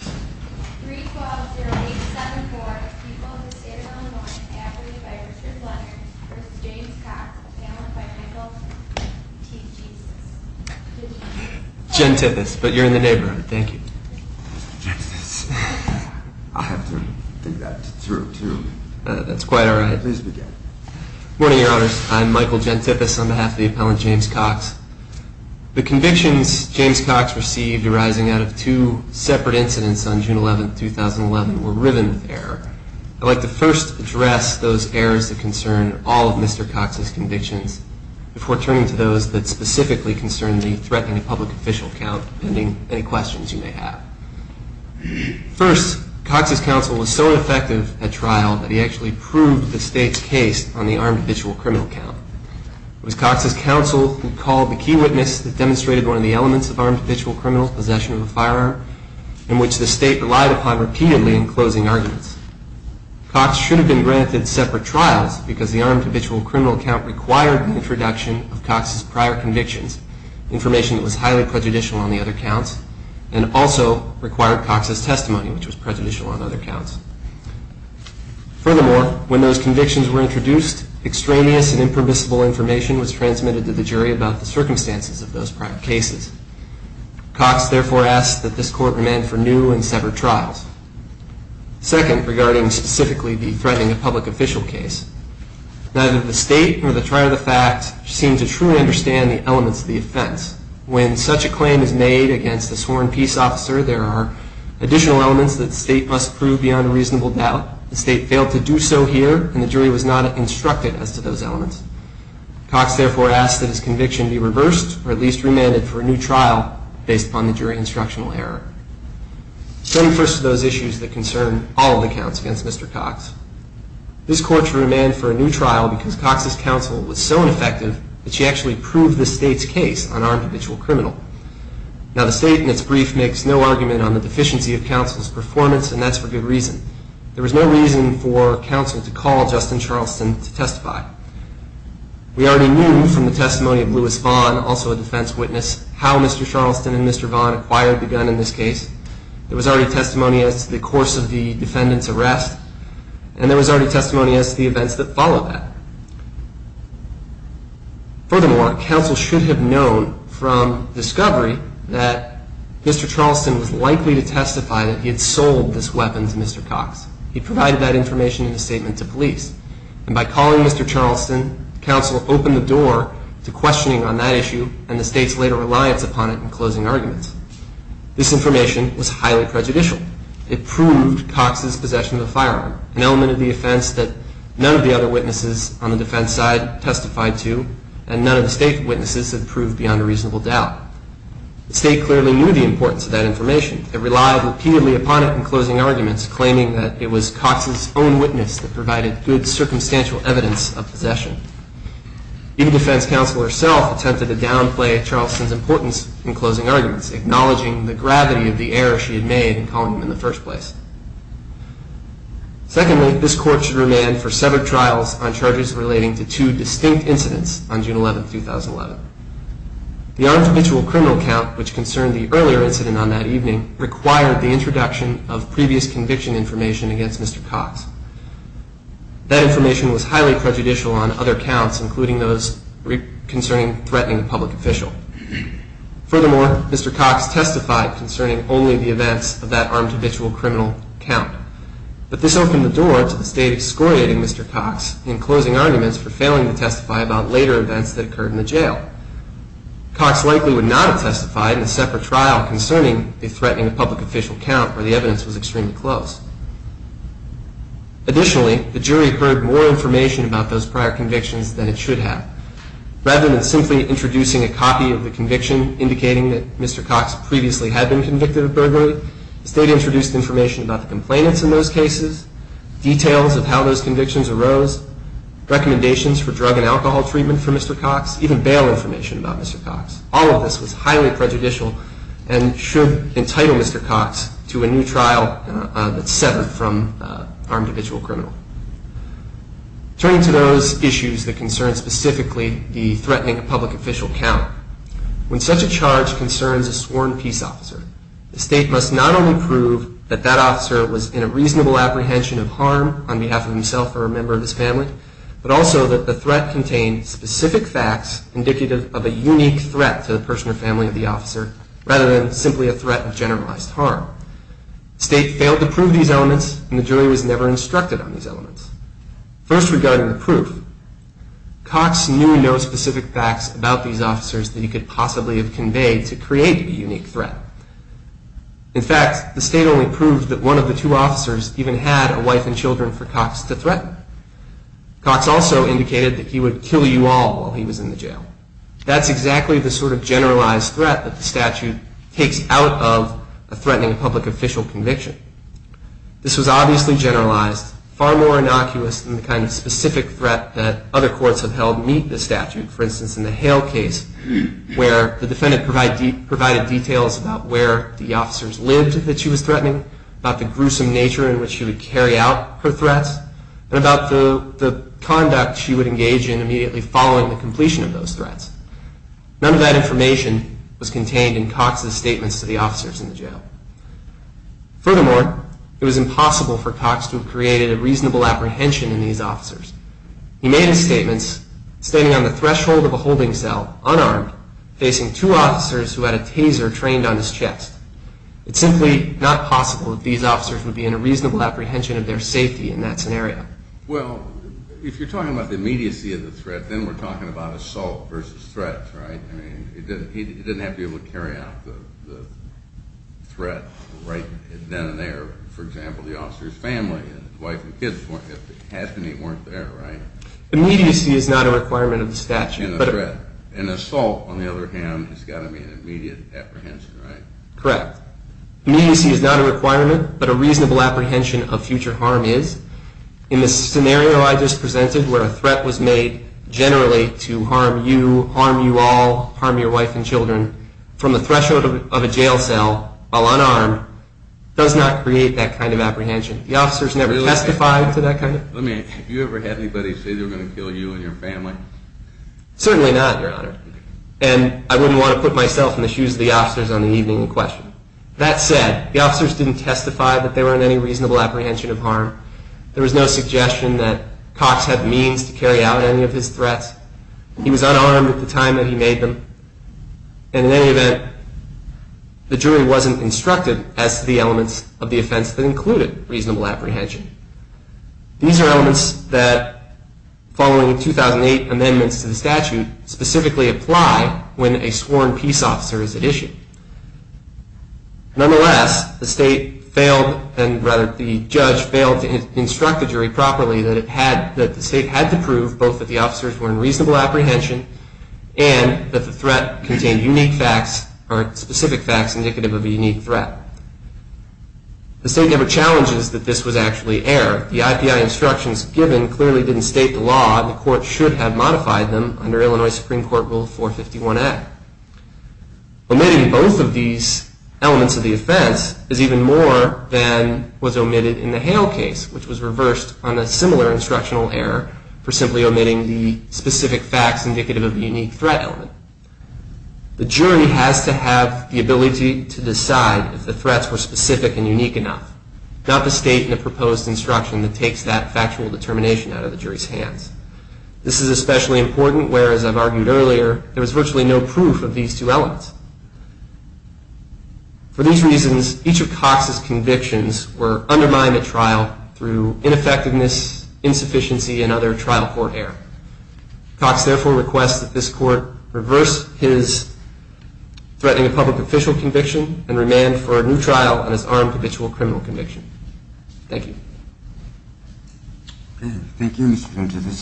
312-0874, people of the state of Illinois, abrogated by Richard Blunders v. James Cox, appellant by Michael T. Jesus. Jen Tippis, but you're in the neighborhood, thank you. I'll have to dig that through, too. That's quite all right. Good morning, your honors. I'm Michael Jen Tippis on behalf of the appellant James Cox. The convictions James Cox received arising out of two separate incidents on June 11, 2011 were riven with error. I'd like to first address those errors that concern all of Mr. Cox's convictions before turning to those that specifically concern the threatening a public official count, pending any questions you may have. First, Cox's counsel was so ineffective at trial that he actually proved the state's case on the armed habitual criminal count. It was Cox's counsel who called the key witness that possession of a firearm, in which the state relied upon repeatedly in closing arguments. Cox should have been granted separate trials because the armed habitual criminal count required an introduction of Cox's prior convictions, information that was highly prejudicial on the other counts, and also required Cox's testimony, which was prejudicial on other counts. Furthermore, when those convictions were introduced, extraneous and impermissible information was transmitted to the jury about the circumstances of those prior cases. Cox therefore asked that this court remand for new and separate trials. Second, regarding specifically the threatening a public official case, neither the state nor the trial of the fact seemed to truly understand the elements of the offense. When such a claim is made against a sworn peace officer, there are additional elements that the state must prove beyond reasonable doubt. The state failed to do so here, and the jury was not instructed as to those elements. Cox therefore asked that his conviction be reversed, or at least remanded for a new trial based upon the jury instructional error. Setting first to those issues that concern all of the counts against Mr. Cox, this court should remand for a new trial because Cox's counsel was so ineffective that she actually proved the state's case on armed habitual criminal. Now, the state in its brief makes no argument on the deficiency of counsel's performance, and that's for good reason. There was no reason for counsel to call Justin Charleston to testify. We already knew from the testimony of Louis Vaughn, also a defense witness, how Mr. Charleston and Mr. Vaughn acquired the gun in this case. There was already testimony as to the course of the defendant's arrest, and there was already testimony as to the events that followed that. Furthermore, counsel should have known from discovery that Mr. Charleston was likely to testify that he had sold this weapon to Mr. Cox. And by calling Mr. Charleston, counsel opened the door to questioning on that issue and the state's later reliance upon it in closing arguments. This information was highly prejudicial. It proved Cox's possession of the firearm, an element of the offense that none of the other witnesses on the defense side testified to, and none of the state witnesses had proved beyond a reasonable doubt. The state clearly knew the importance of that information. It relied repeatedly upon it in closing arguments, claiming that it was Cox's own witness that Even defense counsel herself attempted to downplay Charleston's importance in closing arguments, acknowledging the gravity of the error she had made in calling him in the first place. Secondly, this court should remand for severed trials on charges relating to two distinct incidents on June 11, 2011. The unfamiliar criminal count, which concerned the earlier incident on that evening, required the introduction of previous conviction information against Mr. Cox. That information was highly prejudicial on other counts, including those concerning threatening a public official. Furthermore, Mr. Cox testified concerning only the events of that armed habitual criminal count. But this opened the door to the state excoriating Mr. Cox in closing arguments for failing to testify about later events that occurred in the jail. Cox likely would not have testified in a separate trial concerning the threatening of public official count, where the evidence was extremely close. Additionally, the jury heard more information about those prior convictions than it should have. Rather than simply introducing a copy of the conviction, indicating that Mr. Cox previously had been convicted of burglary, the state introduced information about the complainants in those cases, details of how those convictions arose, recommendations for drug and alcohol treatment for Mr. Cox, even bail information about Mr. Cox. All of this was highly prejudicial and should entitle Mr. Cox to a new trial that severed from armed habitual criminal. Turning to those issues that concern specifically the threatening of public official count, when such a charge concerns a sworn peace officer, the state must not only prove that that officer was in a reasonable apprehension of harm on behalf of himself or a member of his family, but also that the threat contained specific facts indicative of a unique threat to the person or family of the officer, rather than simply a threat of generalized harm. State failed to prove these elements, and the jury was never instructed on these elements. First, regarding the proof, Cox knew no specific facts about these officers that he could possibly have conveyed to create a unique threat. In fact, the state only proved that one of the two officers even had a wife and children for Cox to threaten. Cox also indicated that he would kill you all while he was in the jail. That's exactly the sort of generalized threat that the statute takes out of a threatening public official conviction. This was obviously generalized, far more innocuous than the kind of specific threat that other courts have held meet the statute. For instance, in the Hale case, where the defendant provided details about where the officers lived that she was threatening, about the gruesome nature in which she would carry out her threats, and about the conduct she would engage in immediately following the completion of those threats. None of that information was contained in Cox's statements to the officers in the jail. Furthermore, it was impossible for Cox to have created a reasonable apprehension in these officers. He made his statements standing on the threshold of a holding cell, unarmed, facing two officers who had a taser trained on his chest. It's simply not possible that these officers would be in a reasonable apprehension of their safety in that scenario. Well, if you're talking about the immediacy of the threat, then we're talking about assault versus threat, right? He didn't have to be able to carry out the threat right then and there. For example, the officer's family, his wife and kids, half of them weren't there, right? Immediacy is not a requirement of the statute. An assault, on the other hand, has got to be an immediate apprehension, right? Correct. Immediacy is not a requirement, but a reasonable apprehension of future harm is. In the scenario I just presented, where a threat was made, generally, to harm you, harm you all, harm your wife and children, from the threshold of a jail cell while unarmed, does not create that kind of apprehension. The officers never testified to that kind of apprehension. Have you ever had anybody say they were going to kill you and your family? Certainly not, Your Honor. And I wouldn't want to put myself in the shoes of the officers on the evening in question. That said, the officers didn't testify that they were in any reasonable apprehension of harm. There was no suggestion that Cox had means to carry out any of his threats. He was unarmed at the time that he made them. And in any event, the jury wasn't instructed as to the elements of the offense that included reasonable apprehension. These are elements that, following 2008 amendments to the statute, specifically apply when a sworn peace officer is at issue. Nonetheless, the state failed, and rather the judge failed to instruct the jury properly, that the state had to prove both that the officers were in reasonable apprehension and that the threat contained unique facts or specific facts indicative of a unique threat. The state never challenges that this was actually error. The IPI instructions given clearly didn't state the law. The court should have modified them under Illinois Supreme Court Rule 451a. Omitting both of these elements of the offense is even more than was omitted in the Hale case, which was reversed on a similar instructional error for simply omitting the specific facts indicative of the unique threat element. The jury has to have the ability to decide if the threats were specific and unique enough, not the state in the proposed instruction that takes that factual determination out of the jury's hands. This is especially important where, as I've argued earlier, there was virtually no proof of these two elements. For these reasons, each of Cox's convictions were undermined at trial through ineffectiveness, insufficiency, and other trial court error. Cox therefore requests that this court reverse his threatening a public official conviction and remand for a new trial on his armed habitual criminal conviction. Thank you. Thank you, Mr. Ventimiglia.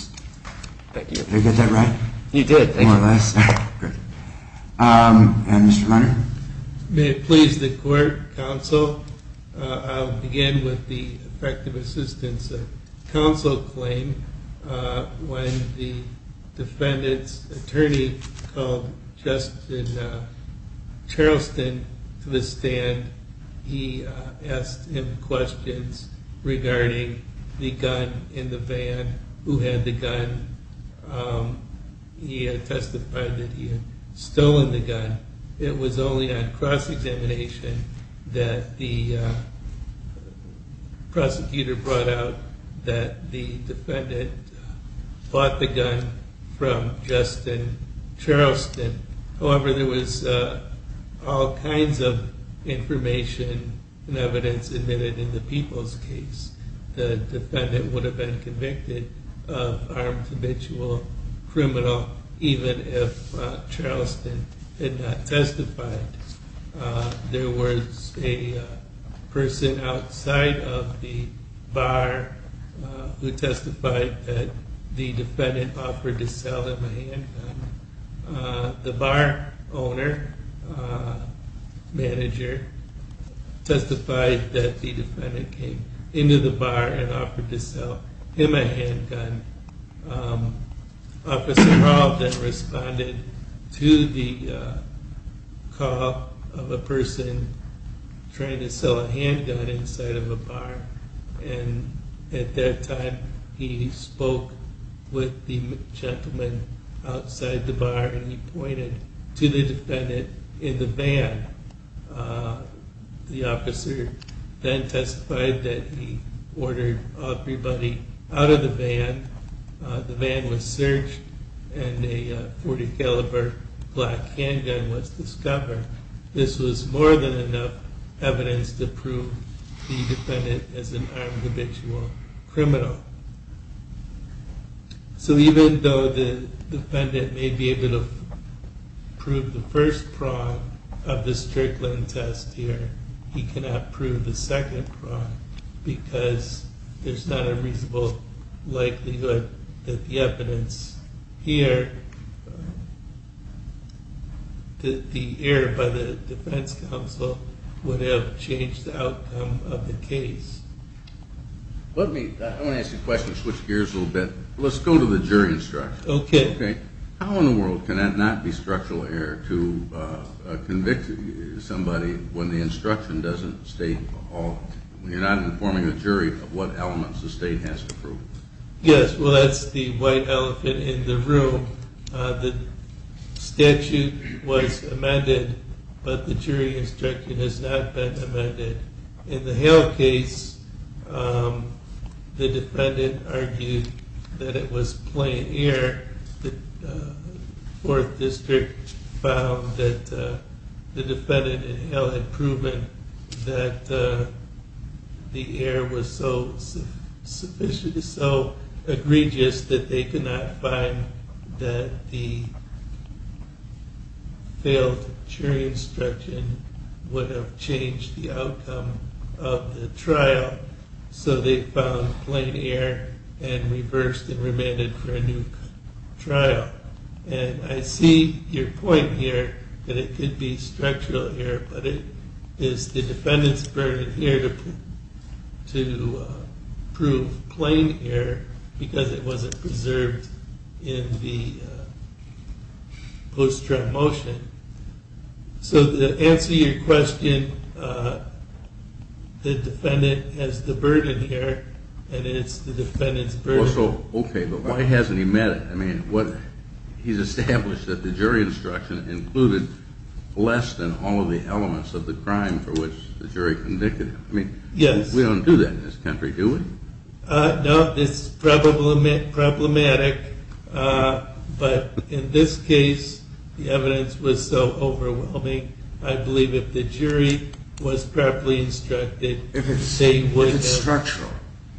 Thank you. Did I get that right? You did. Thank you. More or less. Great. Mr. Hunter? May it please the court, counsel, I'll begin with the effective assistance of counsel claim. When the defendant's attorney called Justin Charleston to the stand, he asked him questions regarding the gun in the van, who had the gun. And he had testified that he had stolen the gun. It was only on cross-examination that the prosecutor brought out that the defendant bought the gun from Justin Charleston. However, there was all kinds of information and evidence admitted in the people's case. The defendant would have been convicted of armed habitual criminal, even if Charleston had not testified. There was a person outside of the bar who testified that the defendant offered to sell him a handgun. The bar owner, manager, testified that the defendant came into the bar and offered to sell him a handgun. Officer Rob then responded to the call of a person trying to sell a handgun inside of a bar. And at that time, he spoke with the gentleman outside the bar. And he pointed to the defendant in the van. The officer then testified that he ordered everybody out of the van. The van was searched, and a 40-caliber black handgun was discovered. This was more than enough evidence to prove the defendant as an armed habitual criminal. So even though the defendant may be able to prove the first prong of this trickling test here, he cannot prove the second prong because there's not a reasonable likelihood that the evidence here, that the error by the defense counsel would have changed the outcome of the case. Let me ask you a question to switch gears a little bit. Let's go to the jury instruction. OK. How in the world can that not be structural error to convict somebody when the instruction doesn't state all, when you're not informing the jury of what elements the state has to prove? Yes, well, that's the white elephant in the room. The statute was amended, but the jury instruction has not been amended. In the Hale case, the defendant argued that it was plain error. The fourth district found that the defendant in Hale had proven that the error was so egregious that they could not find that the failed jury instruction would have changed the outcome of the trial. So they found plain error and reversed and remanded for a new trial. And I see your point here that it could be structural error, but it is the defendant's burden here to prove plain error because it wasn't preserved in the post-trial motion. So to answer your question, the defendant has the burden here, and it's the defendant's burden. Well, so, OK, but why hasn't he met it? I mean, he's established that the jury instruction included less than all of the elements of the crime for which the jury convicted him. I mean, we don't do that in this country, do we? No, it's problematic. But in this case, the evidence was so overwhelming, I believe if the jury was properly instructed, they would have. If it's structural,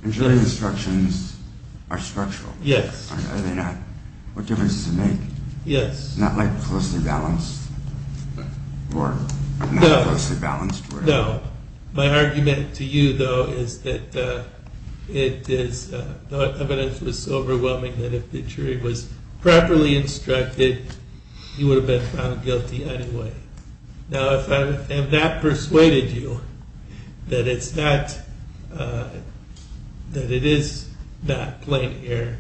and jury instructions are structural. Yes. Are they not? What difference does it make? Yes. Not like closely balanced or not closely balanced. No. My argument to you, though, is that the evidence was so overwhelming that if the jury was properly instructed, you would have been found guilty anyway. Now, if I have not persuaded you that it is not plain here,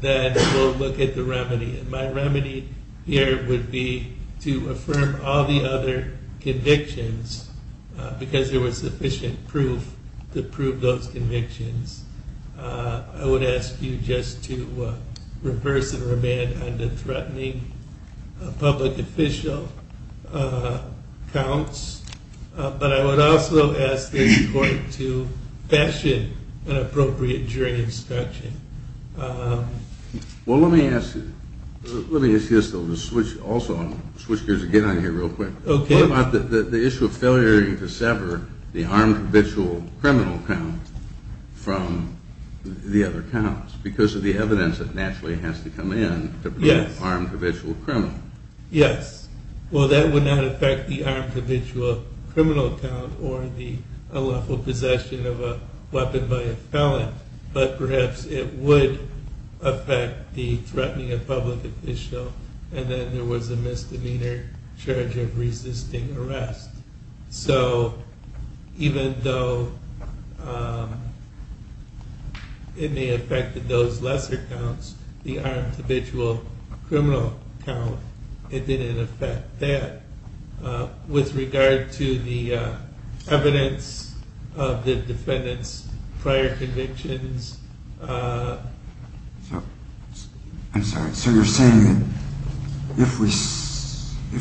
then we'll look at the remedy. And my remedy here would be to affirm all the other convictions, because there was sufficient proof to prove those convictions. I would ask you just to reverse and remand on the threatening public official counts. But I would also ask this court to fashion an appropriate jury instruction. Well, let me ask you this, though. Also, I'm going to switch gears again on here real quick. What about the issue of failure to sever the armed habitual criminal count from the other counts, because of the evidence that naturally has to come in to prove armed habitual criminal? Yes. Well, that would not affect the armed habitual criminal count or the unlawful possession of a weapon by a felon. But perhaps it would affect the threatening of public official. And then there was a misdemeanor charge of resisting arrest. So even though it may affect those lesser counts, the armed habitual criminal count, it didn't affect that with regard to the evidence of the defendant's prior convictions. I'm sorry. So you're saying that if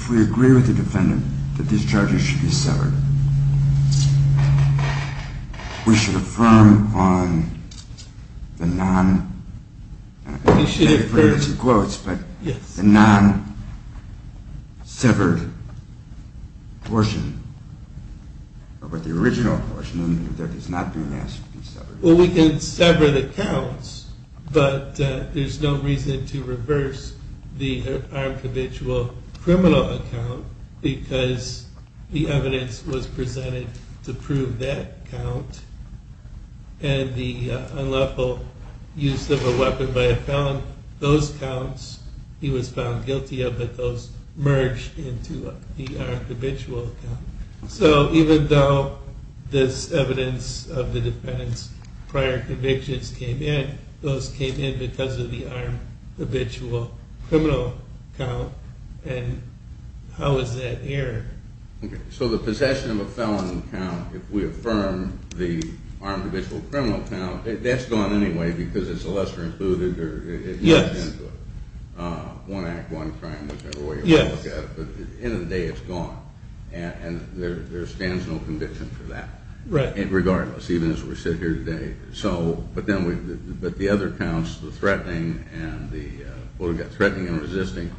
we agree with the defendant that these charges should be severed, then we should affirm on the non-severed portion, or the original portion that is not being asked to be severed? Well, we can sever the counts. But there's no reason to reverse the armed habitual criminal count, because the evidence was presented to prove that count. And the unlawful use of a weapon by a felon, those counts, he was found guilty of, but those merged into the armed habitual count. So even though this evidence of the defendant's prior convictions came in, those came in because of the armed habitual criminal count. And how is that aired? So the possession of a felon count, if we affirm the armed habitual criminal count, that's gone anyway, because it's a lesser included, or it merged into it. One act, one crime, whichever way you want to look at it. But at the end of the day, it's gone. And there stands no conviction for that, regardless, even as we sit here today. But the other counts, the threatening and the resisting,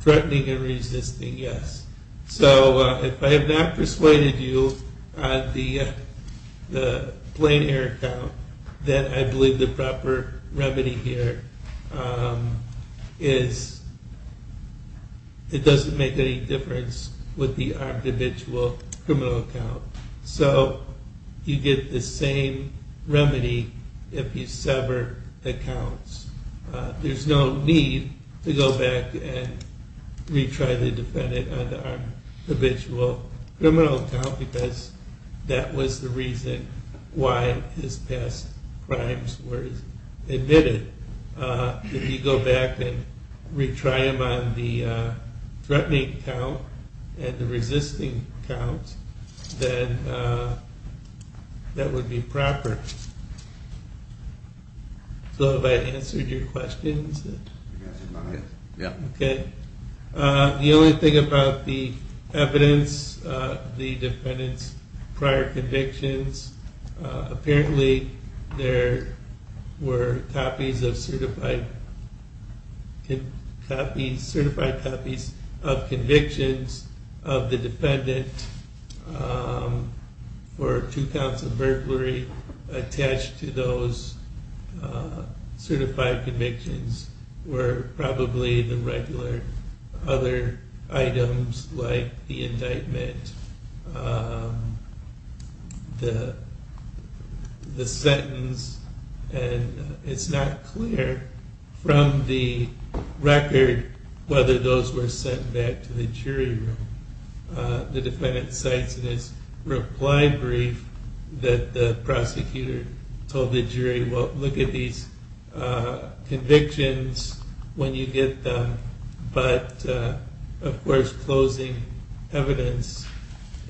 Threatening and resisting, yes. So if I have not persuaded you on the plain air count, then I believe the proper remedy here is it doesn't make any difference with the armed habitual criminal count. So you get the same remedy if you sever the counts. There's no need to go back and retry the defendant on the armed habitual criminal count, because that was the reason why his past crimes were admitted. If you go back and retry him on the threatening count and the resisting count, then that would be proper. So have I answered your questions? Yeah. OK. The only thing about the evidence, the defendant's prior convictions, apparently there were copies of certified copies of convictions of the defendant for two counts of burglary attached to those certified convictions were probably the regular other items, like the indictment, the sentence. And it's not clear from the record whether those were sent back to the jury room. The defendant cites in his reply brief that the prosecutor told the jury, well, look at these convictions when you get them. But of course, closing evidence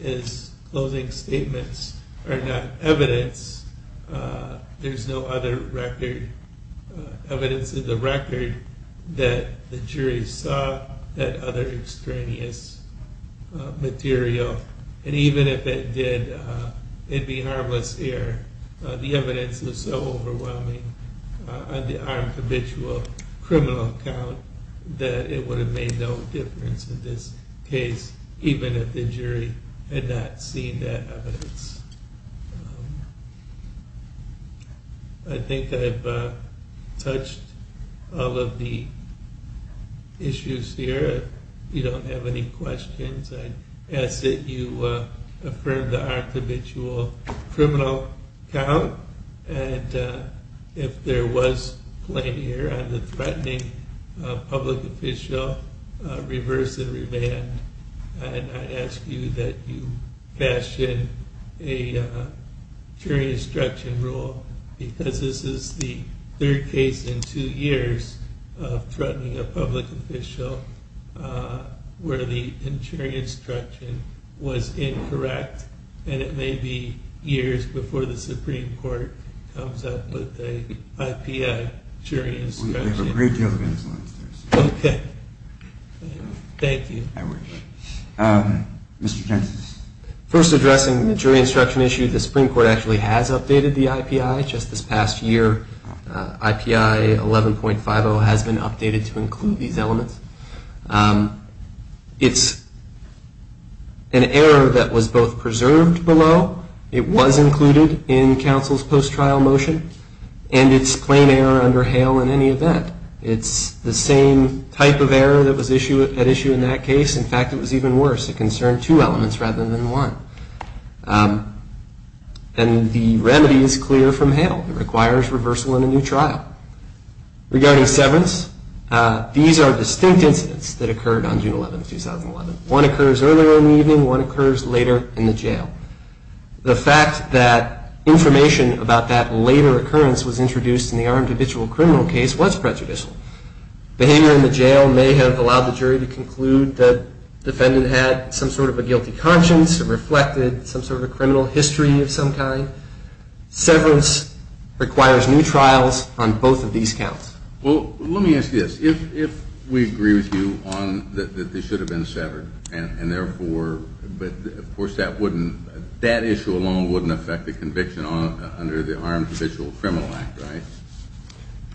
is closing statements are not evidence. There's no other record, evidence in the record, that the jury saw that other extraneous material. And even if it did, it'd be harmless here. The evidence is so overwhelming on the armed habitual criminal count that it would have made no difference in this case, even if the jury had not seen that evidence. I think I've touched all of the issues here. If you don't have any questions, I ask that you affirm the armed habitual criminal count. And if there was a claim here on the threatening public official, reverse the remand. And I ask you that you fashion a jury instruction rule, because this is the third case in two years of threatening a public official, where the jury instruction was incorrect. And it may be years before the Supreme Court comes up with a IPI jury instruction. We have a great deal of influence. OK. Thank you. Mr. Jensen. First addressing the jury instruction issue, the Supreme Court actually has updated the IPI just this past year. IPI 11.50 has been updated to include these elements. It's an error that was both preserved below, it was included in counsel's post-trial motion, and it's plain error under HALE in any event. It's the same type of error that was at issue in that case. In fact, it was even worse. It concerned two elements rather than one. And the remedy is clear from HALE. It requires reversal in a new trial. Regarding severance, these are distinct incidents that occurred on June 11, 2011. One occurs earlier in the evening. One occurs later in the jail. The fact that information about that later occurrence was introduced in the armed habitual criminal case was prejudicial. Behavior in the jail may have allowed the jury to conclude the defendant had some sort of a guilty conscience, reflected some sort of a criminal history of some kind. Severance requires new trials on both of these counts. Well, let me ask you this. If we agree with you on that they should have been severed, and therefore, of course, that issue alone wouldn't affect the conviction under the armed habitual criminal act, right?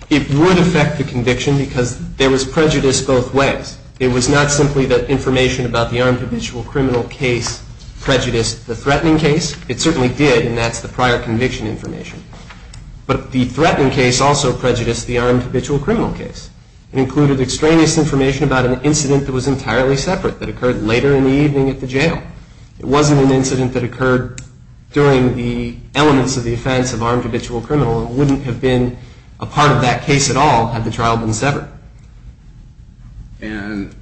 It would affect the conviction because there was prejudice both ways. It was not simply that information about the armed habitual criminal case prejudiced the threatening case. It certainly did, and that's the prior conviction information. But the threatening case also prejudiced the armed habitual criminal case. It included extraneous information about an incident that was entirely separate that occurred later in the evening at the jail. It wasn't an incident that occurred during the elements of the offense of armed habitual criminal. It wouldn't have been a part of that case at all had the trial been severed. And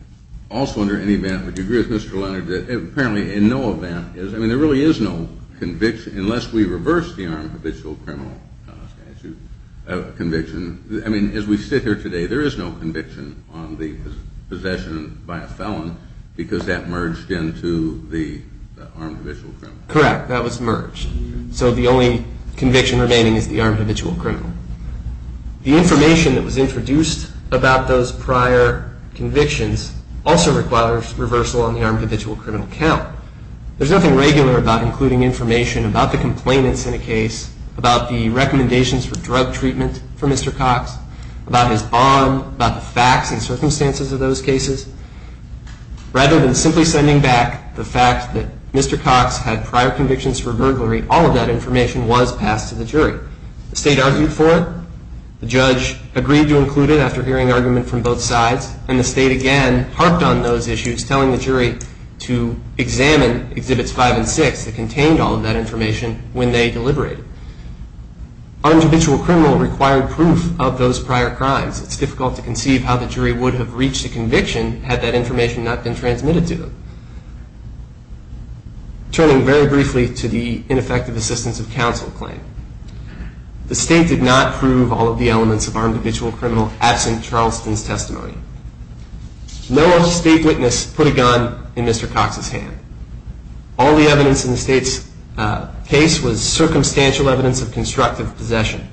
also under any event, would you agree with Mr. Leonard that apparently in no event is, I mean, there really is no conviction unless we reverse the armed habitual criminal conviction. I mean, as we sit here today, there is no conviction on the possession by a felon because that merged into the armed habitual criminal. Correct, that was merged. So the only conviction remaining is the armed habitual criminal. The information that was introduced about those prior convictions also requires reversal on the armed habitual criminal count. There's nothing regular about including information about the complainants in a case, about the recommendations for drug treatment for Mr. Cox, about his bond, about the facts and circumstances of those cases. Rather than simply sending back the fact that Mr. Cox had prior convictions for burglary, all of that information was passed to the jury. The state argued for it. The judge agreed to include it after hearing argument from both sides. And the state, again, harped on those issues, telling the jury to examine Exhibits 5 and 6 that contained all of that information when they deliberated. Armed habitual criminal required proof of those prior crimes. It's difficult to conceive how the jury would have reached a conviction had that information not been transmitted to them. Turning very briefly to the ineffective assistance of counsel claim, the state did not prove all of the elements of armed habitual criminal absent Charleston's testimony. No other state witness put a gun in Mr. Cox's hand. All the evidence in the state's case was circumstantial evidence of constructive possession.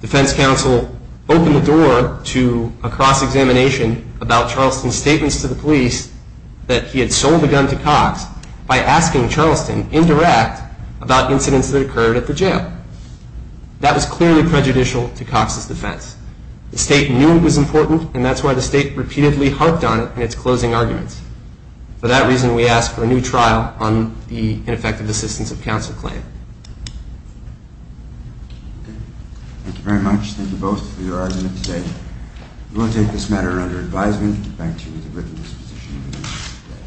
Defense counsel opened the door to a cross-examination about Charleston's statements to the police that he had sold the gun to Cox by asking Charleston, indirect, about incidents that occurred at the jail. That was clearly prejudicial to Cox's defense. The state knew it was important. And that's why the state repeatedly harped on it in its closing arguments. For that reason, we ask for a new trial on the ineffective assistance of counsel claim. Thank you very much. Thank you both for your argument today. We will take this matter under advisement. Thank you for your written disposition.